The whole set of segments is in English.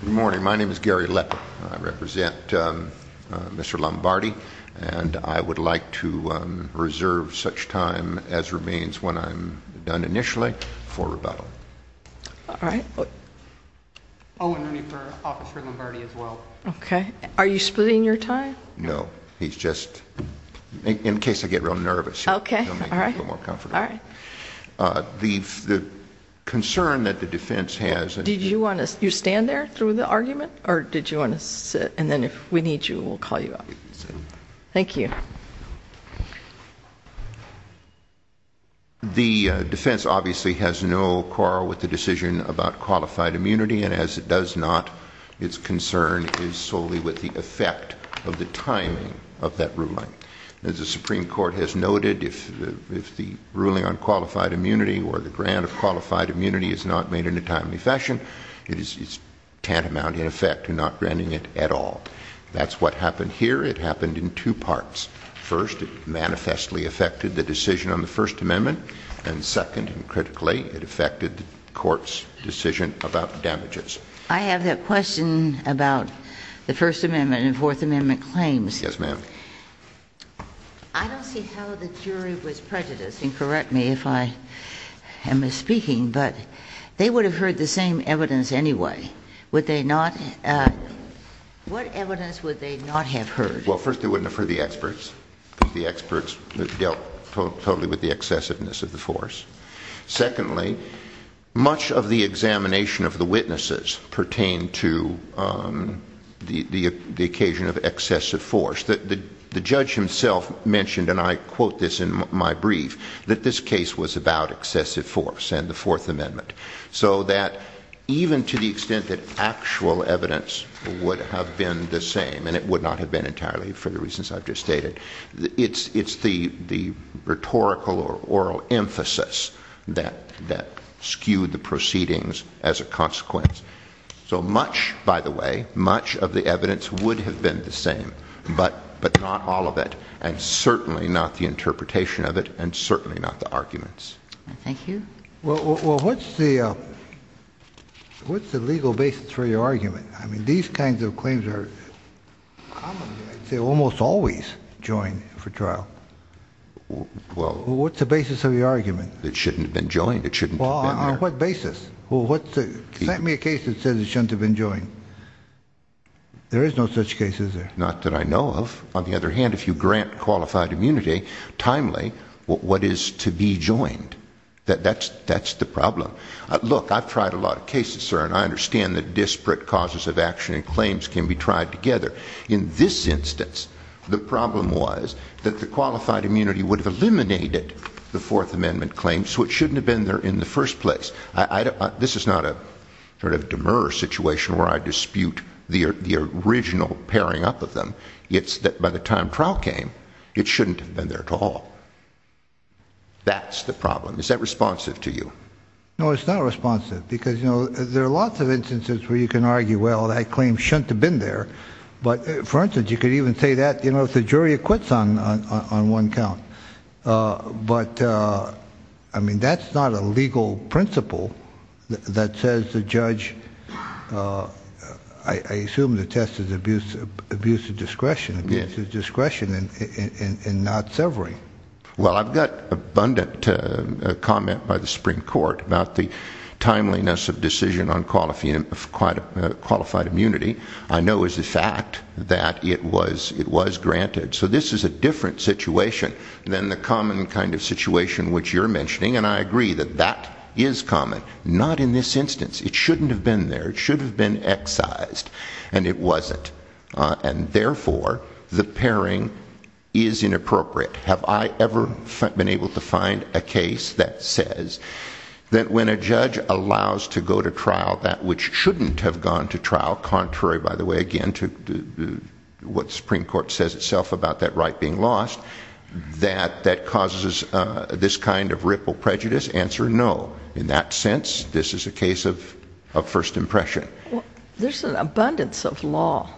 Good morning, my name is Gary Leper. I represent Mr. Lombardi, and I would like to reserve such time as remains when I'm done initially for rebuttal. All right. Oh, and we need for Officer Lombardi as well. Okay. Are you splitting your time? No, he's just, in case I get real nervous, he'll make me feel more comfortable. Okay, all right. The concern that the defense has Did you want to, you stand there through the argument, or did you want to sit, and then if we need you, we'll call you up. Thank you. The defense obviously has no quarrel with the decision about qualified immunity, and as it does not, its concern is solely with the effect of the timing of that ruling. As the Supreme Court has noted, if the ruling on qualified immunity or the grant of qualified immunity is not made in a timely fashion, it is tantamount in effect to not granting it at all. That's what happened here. It happened in two parts. First, it manifestly affected the decision on the First Amendment, and second, and critically, it affected the court's decision about damages. I have that question about the First Amendment and Fourth Amendment claims. Yes, ma'am. I don't see how the jury was prejudiced, and correct me if I am misspeaking, but they would have heard the same evidence anyway. Would they not? What evidence would they not have heard? Well, first, they wouldn't have heard the experts, because the experts dealt totally with the excessiveness of the force. Secondly, much of the examination of the witnesses pertained to the occasion of excessive force. The judge himself mentioned, and I quote this in my brief, that this case was about excessive force and the Fourth Amendment. So that even to the extent that actual evidence would have been the same, and it would not have been entirely for the reasons I've just stated, it's the rhetorical or oral emphasis that skewed the proceedings as a consequence. So much, by the way, much of the evidence would have been the same, but not all of it, and certainly not the interpretation of it, and certainly not the arguments. Thank you. Well, what's the legal basis for your argument? I mean, these kinds of claims are commonly, I'd say almost always, joined for trial. What's the basis of your argument? It shouldn't have been joined. It shouldn't have been there. Well, on what basis? Well, send me a case that says it shouldn't have been joined. There is no such case, is there? Not that I know of. On the other hand, if you grant qualified immunity timely, what is to be joined? That's the problem. Look, I've tried a lot of cases, sir, and I understand that disparate causes of action and claims can be tried together. In this instance, the problem was that the qualified immunity would have eliminated the Fourth Amendment claims, so it shouldn't have been there in the first place. This is not a sort of demur situation where I dispute the original pairing up of them. It's that by the time trial came, it shouldn't have been there at all. That's the problem. Is that responsive to you? No, it's not responsive, because, you know, there are lots of instances where you can argue, well, that claim shouldn't have been there. But, for instance, you could even say that, you know, if the jury acquits on one count. But, I mean, that's not a legal principle that says the judge, I assume the test is abuse of discretion and not severing. Well, I've got abundant comment by the Supreme Court about the timeliness of decision on qualified immunity. I know as a fact that it was granted. So, this is a different situation than the common kind of situation which you're mentioning, and I agree that that is common. Not in this instance. It shouldn't have been there. It should have been excised, and it wasn't. And, therefore, the pairing is inappropriate. Have I ever been able to find a case that says that when a judge allows to go to trial that which shouldn't have gone to trial, contrary, by the way, again, to what the Supreme Court says itself about that right being lost, that that causes this kind of ripple prejudice? Answer, no. In that sense, this is a case of first impression. There's an abundance of law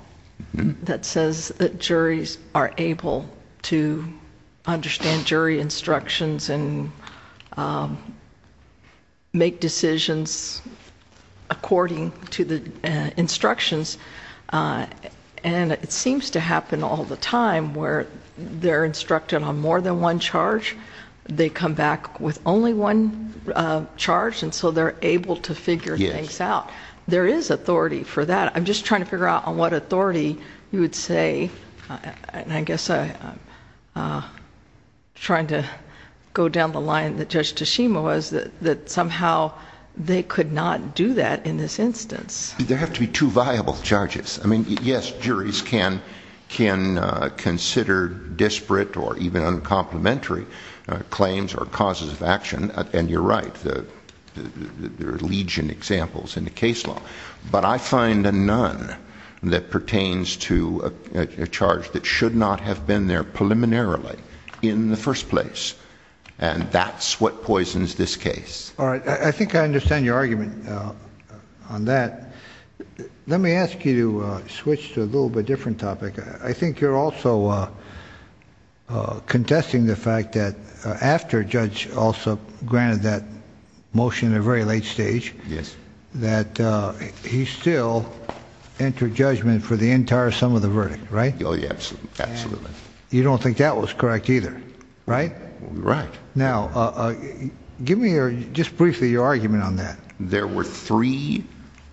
that says that juries are able to understand jury instructions and make decisions according to the instructions. And it seems to happen all the time where they're instructed on more than one charge. They come back with only one charge, and so they're able to figure things out. There is authority for that. I'm just trying to figure out on what authority you would say, and I guess I'm trying to go down the line that Judge Tashima was, that somehow they could not do that in this instance. There have to be two viable charges. I mean, yes, juries can consider disparate or even uncomplimentary claims or causes of action, and you're right. There are legion examples in the case law. But I find a none that pertains to a charge that should not have been there preliminarily in the first place. And that's what poisons this case. All right. I think I understand your argument on that. Let me ask you to switch to a little bit different topic. I think you're also contesting the fact that after a judge also granted that motion at a very late stage, that he still entered judgment for the entire sum of the verdict, right? Oh, yes, absolutely. You don't think that was correct either, right? Right. Now, give me just briefly your argument on that. There were three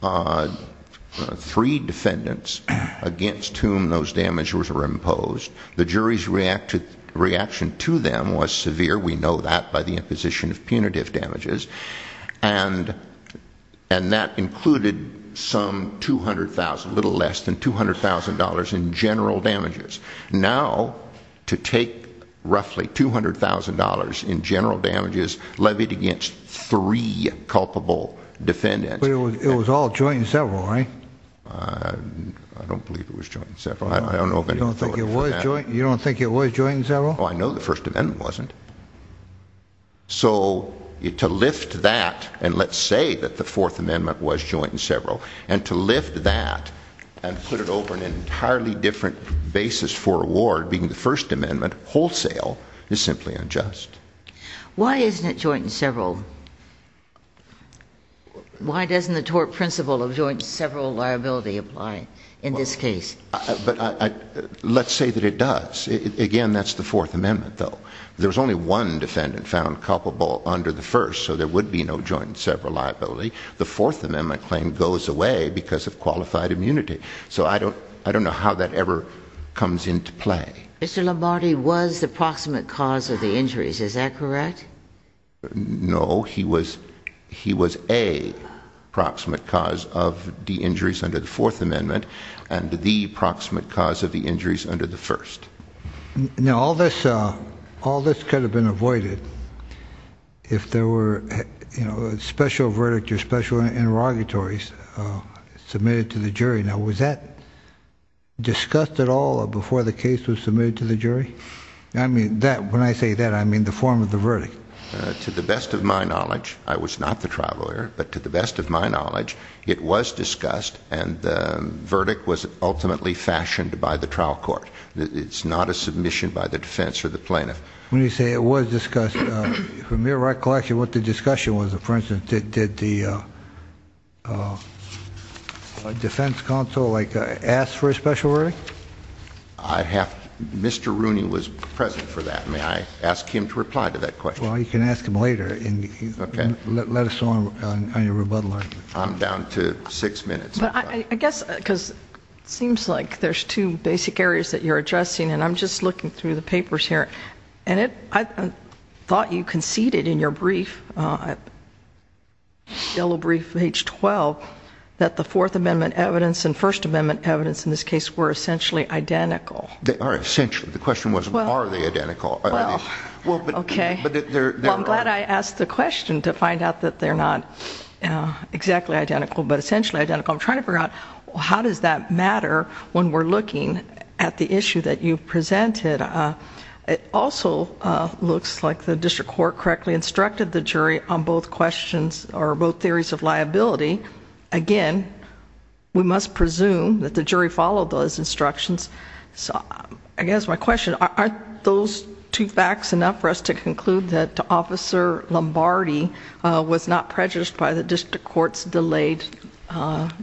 defendants against whom those damages were imposed. The jury's reaction to them was severe. We know that by the imposition of punitive damages. And that included some $200,000, a little less than $200,000 in general damages. Now, to take roughly $200,000 in general damages levied against three culpable defendants. But it was all joint and several, right? I don't believe it was joint and several. I don't know of any authority for that. You don't think it was joint and several? Oh, I know the First Amendment wasn't. So, to lift that and let's say that the Fourth Amendment was joint and several, and to lift that and put it over an entirely different basis for a ward, being the First Amendment, wholesale, is simply unjust. Why isn't it joint and several? Why doesn't the tort principle of joint and several liability apply in this case? Let's say that it does. Again, that's the Fourth Amendment, though. There's only one defendant found culpable under the First, so there would be no joint and several liability. The Fourth Amendment claim goes away because of qualified immunity. So, I don't know how that ever comes into play. Mr. Lombardi was the proximate cause of the injuries. Is that correct? No. He was a proximate cause of the injuries under the Fourth Amendment and the proximate cause of the injuries under the First. Now, all this could have been avoided if there were a special verdict or special interrogatories submitted to the jury. Now, was that discussed at all before the case was submitted to the jury? When I say that, I mean the form of the verdict. To the best of my knowledge, I was not the trial lawyer, but to the best of my knowledge, it was discussed, and the verdict was ultimately fashioned by the trial court. It's not a submission by the defense or the plaintiff. When you say it was discussed, from your recollection, what the discussion was, for instance, did the defense counsel ask for a special verdict? Mr. Rooney was present for that. May I ask him to reply to that question? Well, you can ask him later. Okay. Let us know on your rebuttal argument. I'm down to six minutes. It seems like there's two basic areas that you're addressing, and I'm just looking through the papers here. And I thought you conceded in your brief, yellow brief, page 12, that the Fourth Amendment evidence and First Amendment evidence in this case were essentially identical. They are essentially. The question was are they identical. Well, I'm glad I asked the question to find out that they're not exactly identical, but essentially identical. I'm trying to figure out how does that matter when we're looking at the issue that you've presented. It also looks like the district court correctly instructed the jury on both questions or both theories of liability. Again, we must presume that the jury followed those instructions. I guess my question, aren't those two facts enough for us to conclude that Officer Lombardi was not prejudiced by the district court's delayed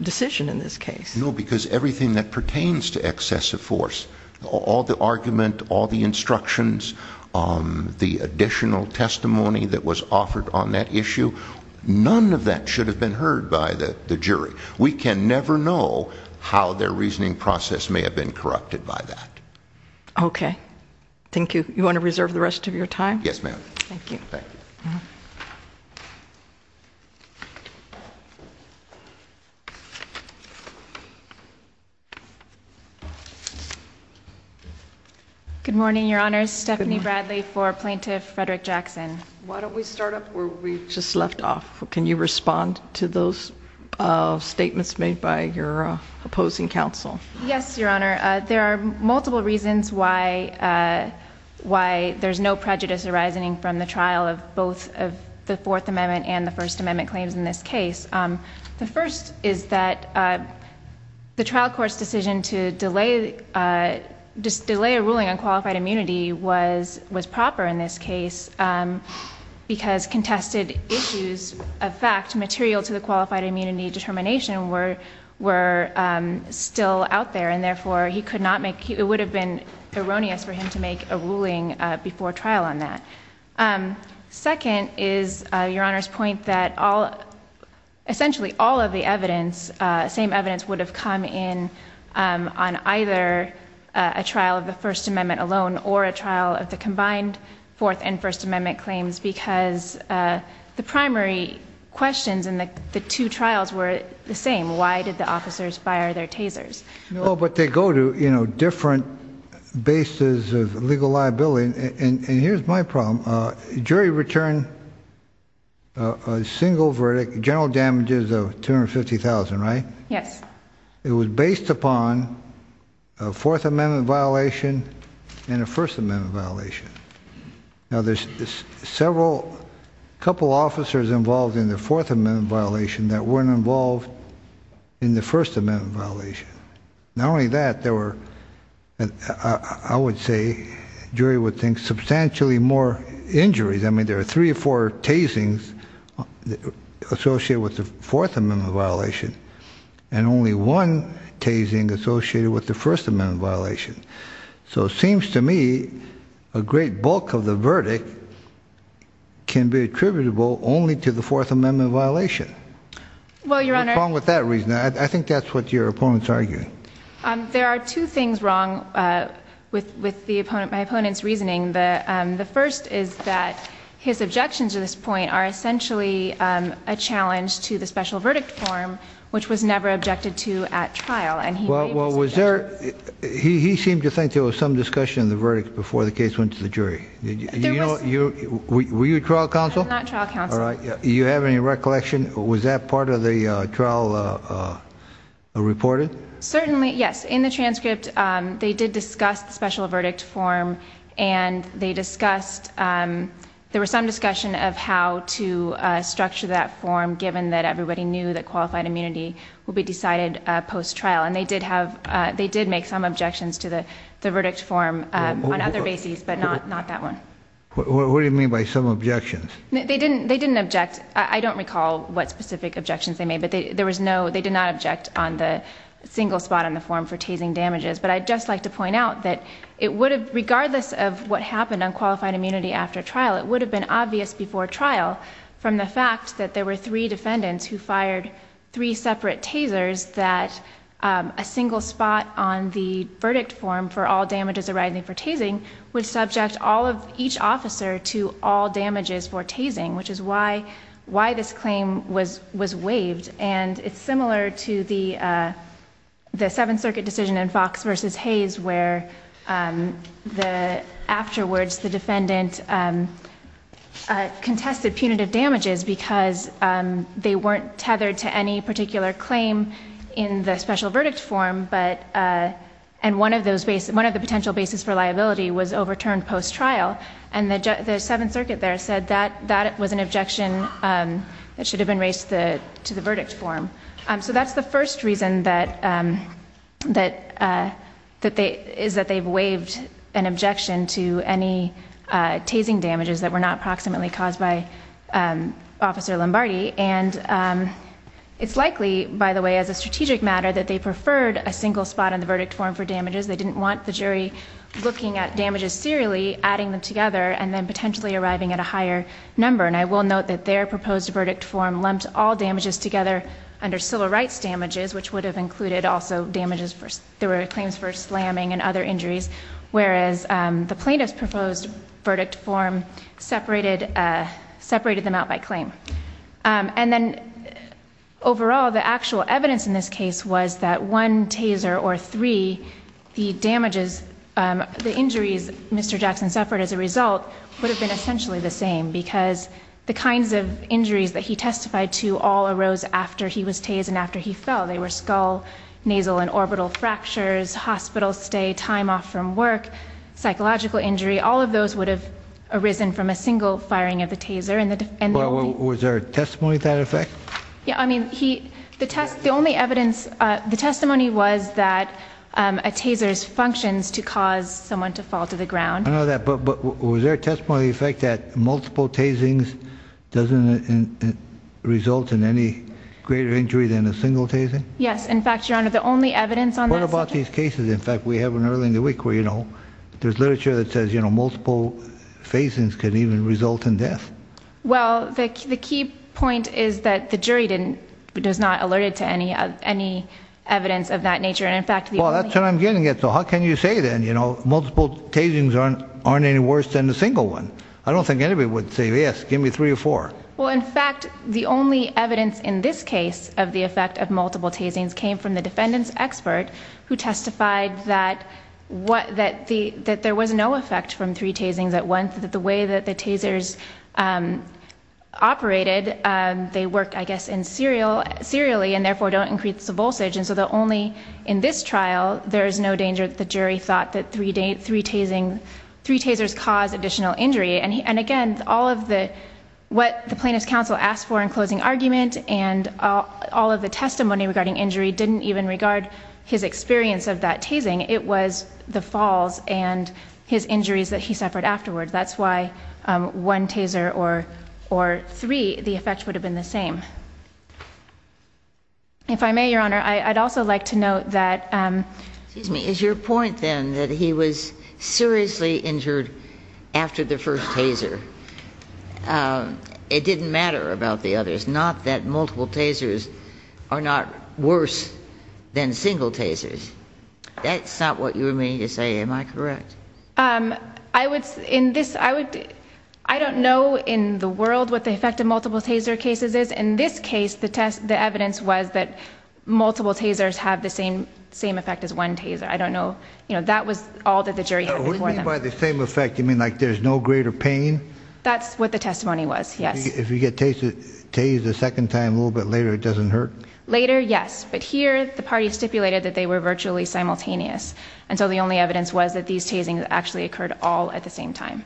decision in this case? No, because everything that pertains to excessive force, all the argument, all the instructions, the additional testimony that was offered on that issue, none of that should have been heard by the jury. We can never know how their reasoning process may have been corrupted by that. Okay. Thank you. You want to reserve the rest of your time? Yes, ma'am. Thank you. Thank you. Good morning, Your Honor. Stephanie Bradley for Plaintiff Frederick Jackson. Why don't we start up where we just left off? Can you respond to those statements made by your opposing counsel? Yes, Your Honor. There are multiple reasons why there's no prejudice arising from the trial of both the Fourth Amendment and the First Amendment claims in this case. The first is that the trial court's decision to delay a ruling on qualified immunity was proper in this case because contested issues of fact material to the qualified immunity determination were still out there, and therefore it would have been erroneous for him to make a ruling before trial on that. Second is Your Honor's point that essentially all of the evidence, would have come in on either a trial of the First Amendment alone or a trial of the combined Fourth and First Amendment claims because the primary questions in the two trials were the same. Why did the officers fire their tasers? Well, but they go to, you know, different bases of legal liability. And here's my problem. Jury returned a single verdict, general damages of $250,000, right? Yes. It was based upon a Fourth Amendment violation and a First Amendment violation. Now, there's several, a couple officers involved in the Fourth Amendment violation that weren't involved in the First Amendment violation. Not only that, there were, I would say, jury would think, substantially more injuries. I mean, there are three or four tasings associated with the Fourth Amendment violation and only one tasing associated with the First Amendment violation. So it seems to me a great bulk of the verdict can be attributable only to the Fourth Amendment violation. Well, Your Honor. What's wrong with that reasoning? I think that's what your opponent's arguing. There are two things wrong with my opponent's reasoning. The first is that his objections to this point are essentially a challenge to the special verdict form, which was never objected to at trial. Well, was there, he seemed to think there was some discussion in the verdict before the case went to the jury. There was. Were you trial counsel? I'm not trial counsel. All right. Do you have any recollection? Was that part of the trial reported? Certainly, yes. In the transcript, they did discuss the special verdict form, and they discussed, there was some discussion of how to structure that form, given that everybody knew that qualified immunity would be decided post-trial. And they did make some objections to the verdict form on other bases, but not that one. What do you mean by some objections? They didn't object. I don't recall what specific objections they made, but they did not object on the single spot on the form for tasing damages. But I'd just like to point out that it would have, regardless of what happened on qualified immunity after trial, it would have been obvious before trial from the fact that there were three defendants who fired three separate tasers, that a single spot on the verdict form for all damages arising for tasing would subject all of each officer to all damages for tasing, which is why this claim was waived. And it's similar to the Seventh Circuit decision in Fox v. Hayes where afterwards the defendant contested punitive damages because they weren't tethered to any particular claim in the special verdict form, and one of the potential bases for liability was overturned post-trial. And the Seventh Circuit there said that that was an objection that should have been raised to the verdict form. So that's the first reason is that they've waived an objection to any tasing damages that were not proximately caused by Officer Lombardi. And it's likely, by the way, as a strategic matter, that they preferred a single spot on the verdict form for damages. They didn't want the jury looking at damages serially, adding them together, and then potentially arriving at a higher number. And I will note that their proposed verdict form lumped all damages together under civil rights damages, which would have included also damages for, there were claims for slamming and other injuries, whereas the plaintiff's proposed verdict form separated them out by claim. And then overall, the actual evidence in this case was that one taser or three, the injuries Mr. Jackson suffered as a result would have been essentially the same because the kinds of injuries that he testified to all arose after he was tased and after he fell. They were skull, nasal and orbital fractures, hospital stay, time off from work, psychological injury. All of those would have arisen from a single firing of the taser. Was there a testimony to that effect? Yeah, I mean, the only evidence, the testimony was that a taser's functions to cause someone to fall to the ground. I know that, but was there a testimony to the effect that multiple tasings doesn't result in any greater injury than a single tasing? Yes, in fact, Your Honor, the only evidence on that subject- What about these cases? In fact, we have one earlier in the week where, you know, there's literature that says, you know, multiple tasings can even result in death. Well, the key point is that the jury does not alert it to any evidence of that nature. Well, that's what I'm getting at. So how can you say then, you know, multiple tasings aren't any worse than a single one? I don't think anybody would say, yes, give me three or four. Well, in fact, the only evidence in this case of the effect of multiple tasings came from the defendant's expert who testified that there was no effect from three tasings at once, that the way that the tasers operated, they worked, I guess, serially and therefore don't increase the voltage. And so only in this trial, there is no danger that the jury thought that three tasers caused additional injury. And again, all of what the plaintiff's counsel asked for in closing argument and all of the testimony regarding injury didn't even regard his experience of that tasing. It was the falls and his injuries that he suffered afterwards. That's why one taser or three, the effect would have been the same. If I may, Your Honor, I'd also like to note that- Excuse me. Is your point then that he was seriously injured after the first taser? It didn't matter about the others. Not that multiple tasers are not worse than single tasers. That's not what you were meaning to say. Am I correct? I don't know in the world what the effect of multiple taser cases is. In this case, the evidence was that multiple tasers have the same effect as one taser. I don't know. That was all that the jury had before them. What do you mean by the same effect? You mean like there's no greater pain? That's what the testimony was, yes. If you get tased a second time a little bit later, it doesn't hurt? Later, yes. But here, the party stipulated that they were virtually simultaneous. And so the only evidence was that these tasings actually occurred all at the same time.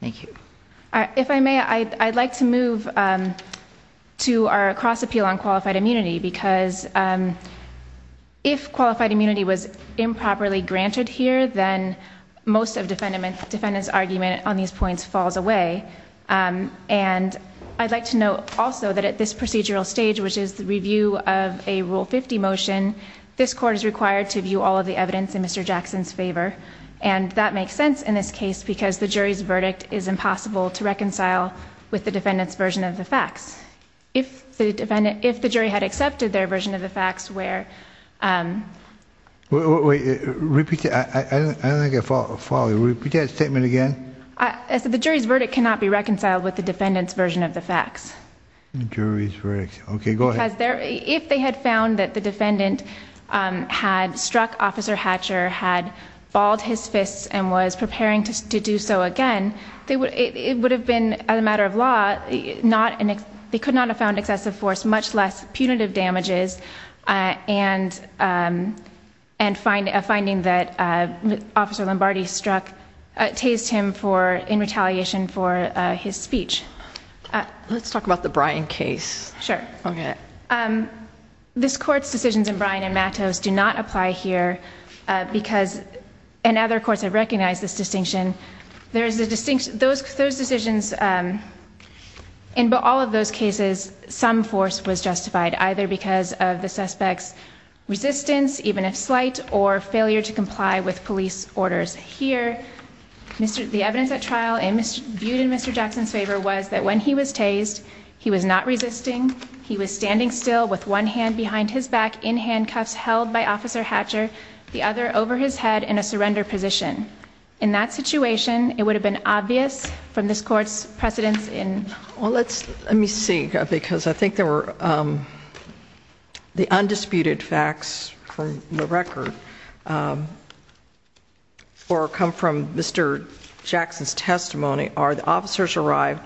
Thank you. If I may, I'd like to move to our cross-appeal on qualified immunity because if qualified immunity was improperly granted here, then most of defendant's argument on these points falls away. And I'd like to note also that at this procedural stage, which is the review of a Rule 50 motion, this court is required to view all of the evidence in Mr. Jackson's favor. And that makes sense in this case because the jury's verdict is impossible to reconcile with the defendant's version of the facts. If the jury had accepted their version of the facts where... Wait, repeat that. I don't think I follow. Repeat that statement again. The jury's verdict cannot be reconciled with the defendant's version of the facts. The jury's verdict. Okay, go ahead. Because if they had found that the defendant had struck Officer Hatcher, had balled his fists, and was preparing to do so again, it would have been, as a matter of law, they could not have found excessive force, much less punitive damages, and a finding that Officer Lombardi tased him in retaliation for his speech. Let's talk about the Bryan case. Sure. Okay. This court's decisions in Bryan and Matos do not apply here because, and other courts have recognized this distinction, those decisions, in all of those cases, some force was justified, either because of the suspect's resistance, even if slight, or failure to comply with police orders. Here, the evidence at trial viewed in Mr. Jackson's favor was that when he was tased, he was not resisting. He was standing still with one hand behind his back in handcuffs held by Officer Hatcher, the other over his head in a surrender position. In that situation, it would have been obvious from this court's precedence in Well, let me see, because I think there were the undisputed facts from the record or come from Mr. Jackson's testimony are the officers arrived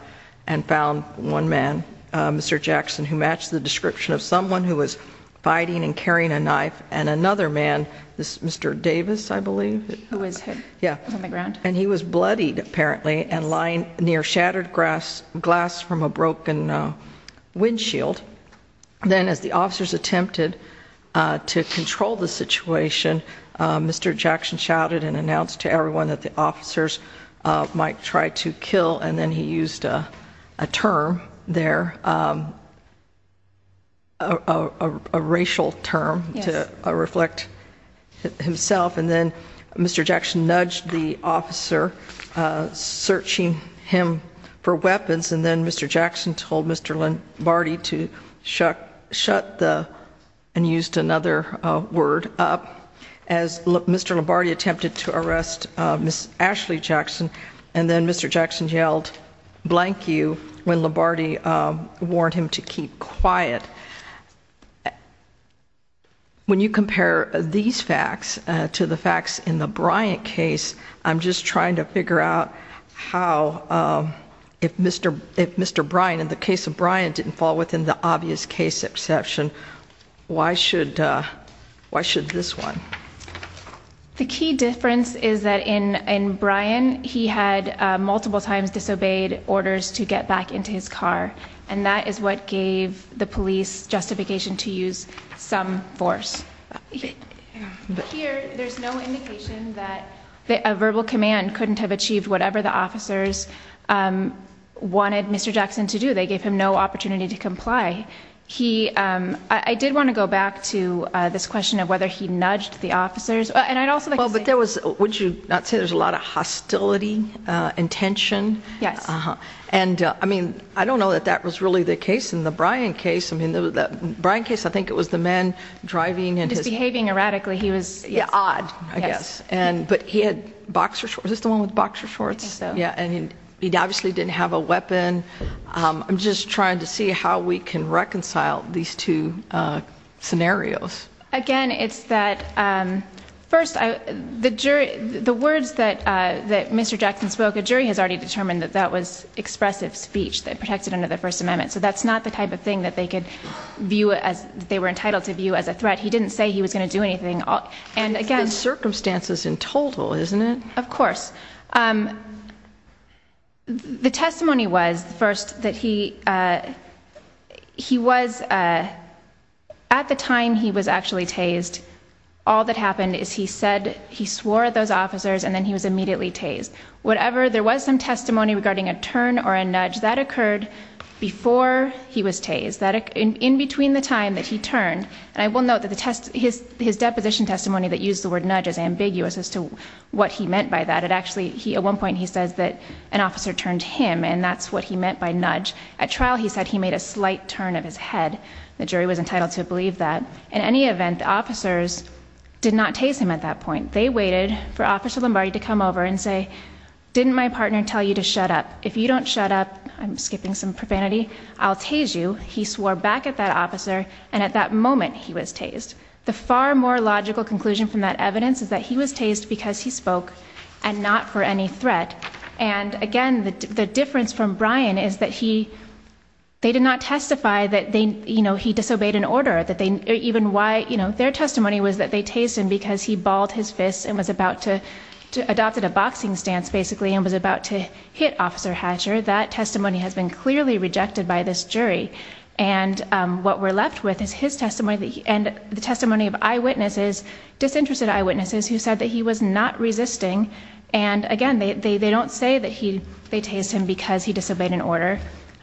and found one man, Mr. Jackson, who matched the description of someone who was fighting and carrying a knife, and another man, Mr. Davis, I believe. Who was hit. Yeah. On the ground. And he was bloodied, apparently, and lying near shattered glass from a broken windshield. Then as the officers attempted to control the situation, Mr. Jackson shouted and announced to everyone that the officers might try to kill, and then he used a term there, a racial term to reflect himself. And then Mr. Jackson nudged the officer, searching him for weapons, and then Mr. Jackson told Mr. Lombardi to shut the, and used another word, up. As Mr. Lombardi attempted to arrest Ms. Ashley Jackson, and then Mr. Jackson yelled, blank you, when Lombardi warned him to keep quiet. When you compare these facts to the facts in the Bryant case, I'm just trying to figure out how, if Mr. Bryant, in the case of Bryant, didn't fall within the obvious case exception, why should this one? The key difference is that in Bryant, he had multiple times disobeyed orders to get back into his car, and that is what gave the police justification to use some force. Here, there's no indication that a verbal command couldn't have achieved whatever the officers wanted Mr. Jackson to do. They gave him no opportunity to comply. I did want to go back to this question of whether he nudged the officers. Would you not say there's a lot of hostility and tension? Yes. I don't know that that was really the case in the Bryant case. In the Bryant case, I think it was the man driving. Disbehaving erratically, he was. Odd, I guess. Is this the one with boxer shorts? I think so. He obviously didn't have a weapon. I'm just trying to see how we can reconcile these two scenarios. Again, it's that, first, the words that Mr. Jackson spoke, a jury has already determined that that was expressive speech that protected under the First Amendment, so that's not the type of thing that they were entitled to view as a threat. He didn't say he was going to do anything. It's been circumstances in total, isn't it? Of course. The testimony was, first, that he was, at the time he was actually tased, all that happened is he said he swore at those officers and then he was immediately tased. There was some testimony regarding a turn or a nudge. That occurred before he was tased. In between the time that he turned, and I will note that his deposition testimony that used the word nudge is ambiguous as to what he meant by that. At one point he says that an officer turned him, and that's what he meant by nudge. At trial he said he made a slight turn of his head. The jury was entitled to believe that. In any event, the officers did not tase him at that point. They waited for Officer Lombardi to come over and say, didn't my partner tell you to shut up? If you don't shut up, I'm skipping some profanity, I'll tase you. He swore back at that officer, and at that moment he was tased. The far more logical conclusion from that evidence is that he was tased because he spoke and not for any threat. Again, the difference from Brian is that they did not testify that he disobeyed an order. Their testimony was that they tased him because he balled his fists and was about to adopt a boxing stance, basically, and was about to hit Officer Hatcher. That testimony has been clearly rejected by this jury. What we're left with is his testimony and the testimony of eyewitnesses, disinterested eyewitnesses, who said that he was not resisting. Again, they don't say that they tased him because he disobeyed an order.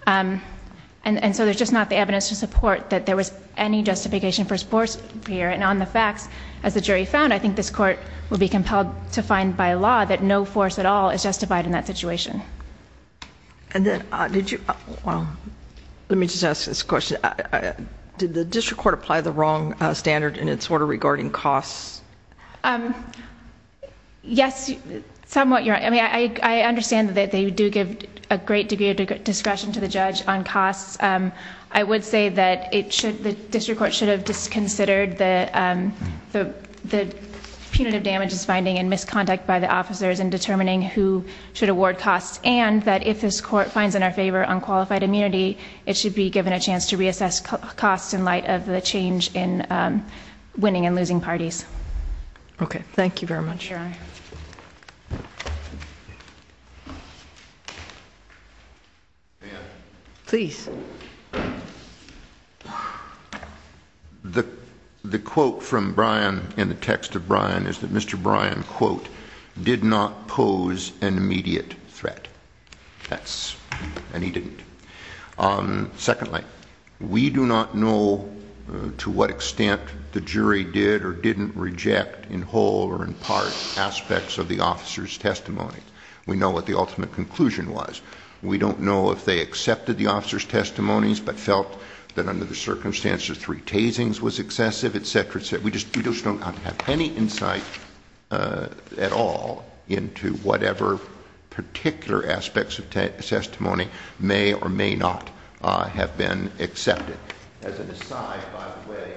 There's just not the evidence to support that there was any justification for force here. On the facts, as the jury found, I think this court will be compelled to find by law that no force at all is justified in that situation. Let me just ask this question. Did the district court apply the wrong standard in its order regarding costs? Yes, somewhat. I understand that they do give a great degree of discretion to the judge on costs. I would say that the district court should have just considered the punitive damages finding and misconduct by the officers in determining who should award costs, and that if this court finds in our favor unqualified immunity, it should be given a chance to reassess costs in light of the change in winning and losing parties. Okay, thank you very much. You're welcome. Ma'am. Please. The quote from Brian in the text of Brian is that Mr. Brian, quote, did not pose an immediate threat, and he didn't. Secondly, we do not know to what extent the jury did or didn't reject in whole or in part aspects of the officer's testimony. We know what the ultimate conclusion was. We don't know if they accepted the officer's testimonies but felt that under the circumstances three tasings was excessive, et cetera, et cetera. We just don't have any insight at all into whatever particular aspects of testimony may or may not have been accepted. As an aside, by the way,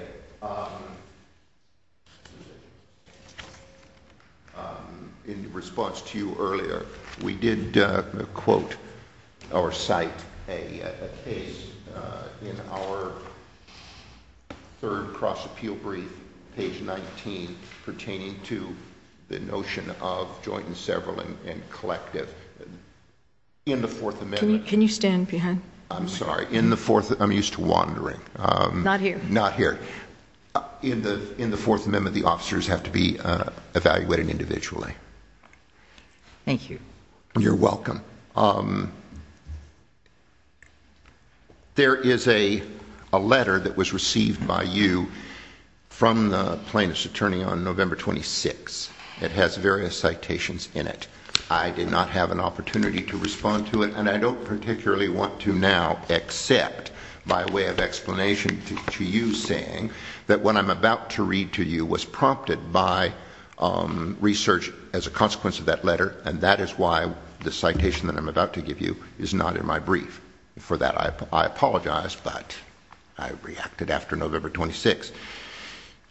in response to you earlier, we did quote or cite a case in our third cross-appeal brief, page 19, pertaining to the notion of joint and several and collective. In the Fourth Amendment. Can you stand behind me? I'm sorry. I'm used to wandering. Not here. Not here. In the Fourth Amendment, the officers have to be evaluated individually. Thank you. You're welcome. There is a letter that was received by you from the plaintiff's attorney on November 26. It has various citations in it. I did not have an opportunity to respond to it, and I don't particularly want to now accept by way of explanation to you saying that what I'm about to read to you was prompted by research as a consequence of that letter, and that is why the citation that I'm about to give you is not in my brief. For that, I apologize, but I reacted after November 26.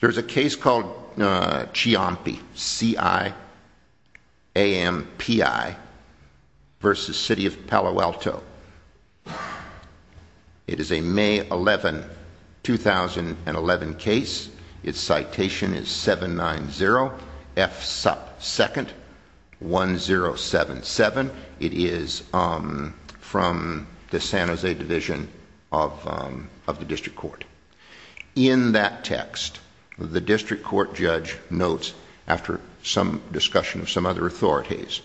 There's a case called Ciampi, C-I-A-M-P-I, versus City of Palo Alto. It is a May 11, 2011 case. Its citation is 790F2nd1077. It is from the San Jose Division of the District Court. In that text, the district court judge notes, after some discussion of some other authorities,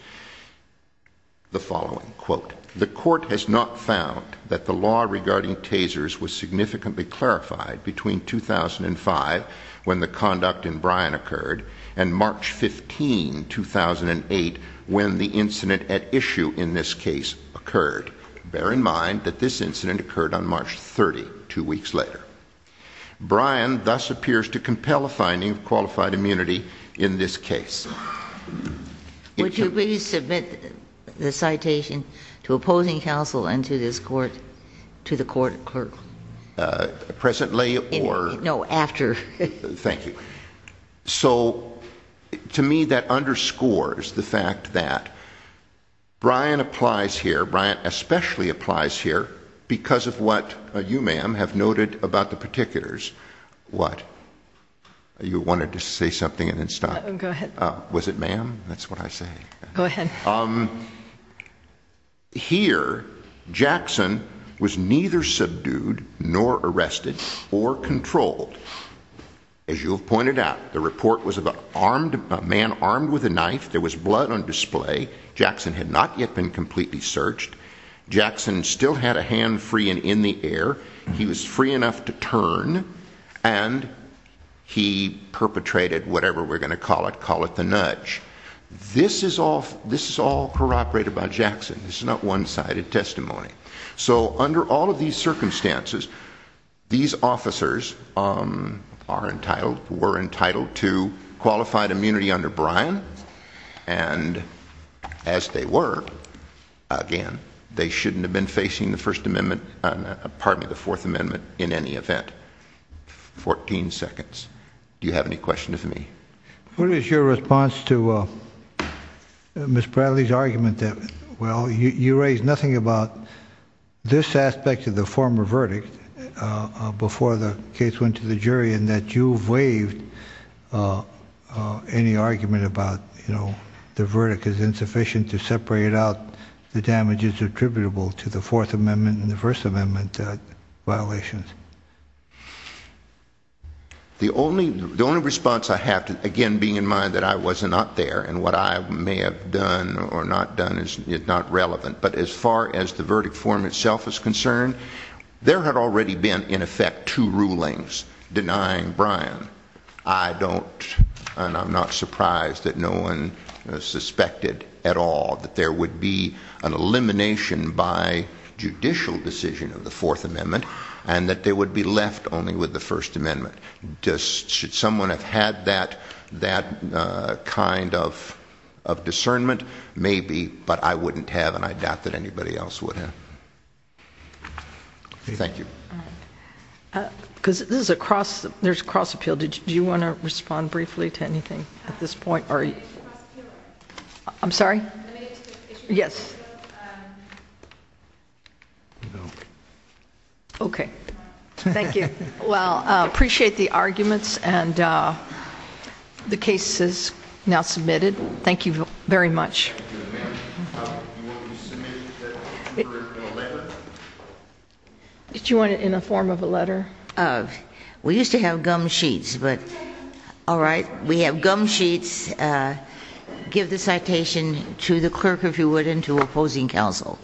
the following. Quote, the court has not found that the law regarding tasers was significantly clarified between 2005, when the conduct in Bryan occurred, and March 15, 2008, when the incident at issue in this case occurred. Bear in mind that this incident occurred on March 30, two weeks later. Bryan thus appears to compel a finding of qualified immunity in this case. Would you please submit the citation to opposing counsel and to this court, to the court clerk? Presently or? No, after. Thank you. So, to me, that underscores the fact that Bryan applies here. Bryan especially applies here because of what you, ma'am, have noted about the particulars. What? You wanted to say something and then stop. Go ahead. Was it ma'am? That's what I say. Go ahead. Here, Jackson was neither subdued nor arrested or controlled. As you have pointed out, the report was about a man armed with a knife. There was blood on display. Jackson had not yet been completely searched. Jackson still had a hand free and in the air. He was free enough to turn, and he perpetrated whatever we're going to call it, call it the nudge. This is all corroborated by Jackson. This is not one-sided testimony. So, under all of these circumstances, these officers are entitled, were entitled to qualified immunity under Bryan, and as they were, again, they shouldn't have been facing the First Amendment, pardon me, the Fourth Amendment in any event. 14 seconds. Do you have any questions for me? What is your response to Ms. Bradley's argument that, well, you raised nothing about this aspect of the former verdict before the case went to the jury and that you waived any argument about, you know, the verdict is insufficient to separate out the damages attributable to the Fourth Amendment and the First Amendment violations? The only response I have to, again, being in mind that I was not there and what I may have done or not done is not relevant, but as far as the verdict form itself is concerned, there had already been, in effect, two rulings denying Bryan. I don't, and I'm not surprised that no one suspected at all that there would be an elimination by judicial decision of the Fourth Amendment and that they would be left only with the First Amendment. Should someone have had that kind of discernment, maybe, but I wouldn't have and I doubt that anybody else would have. Thank you. Because this is a cross, there's a cross appeal. Do you want to respond briefly to anything at this point? I'm sorry? Yes. Okay. Thank you. Well, I appreciate the arguments and the cases now submitted. Thank you very much. Do you want it in the form of a letter? We used to have gum sheets, but all right. We have gum sheets. Give the citation to the clerk, if you would, and to opposing counsel.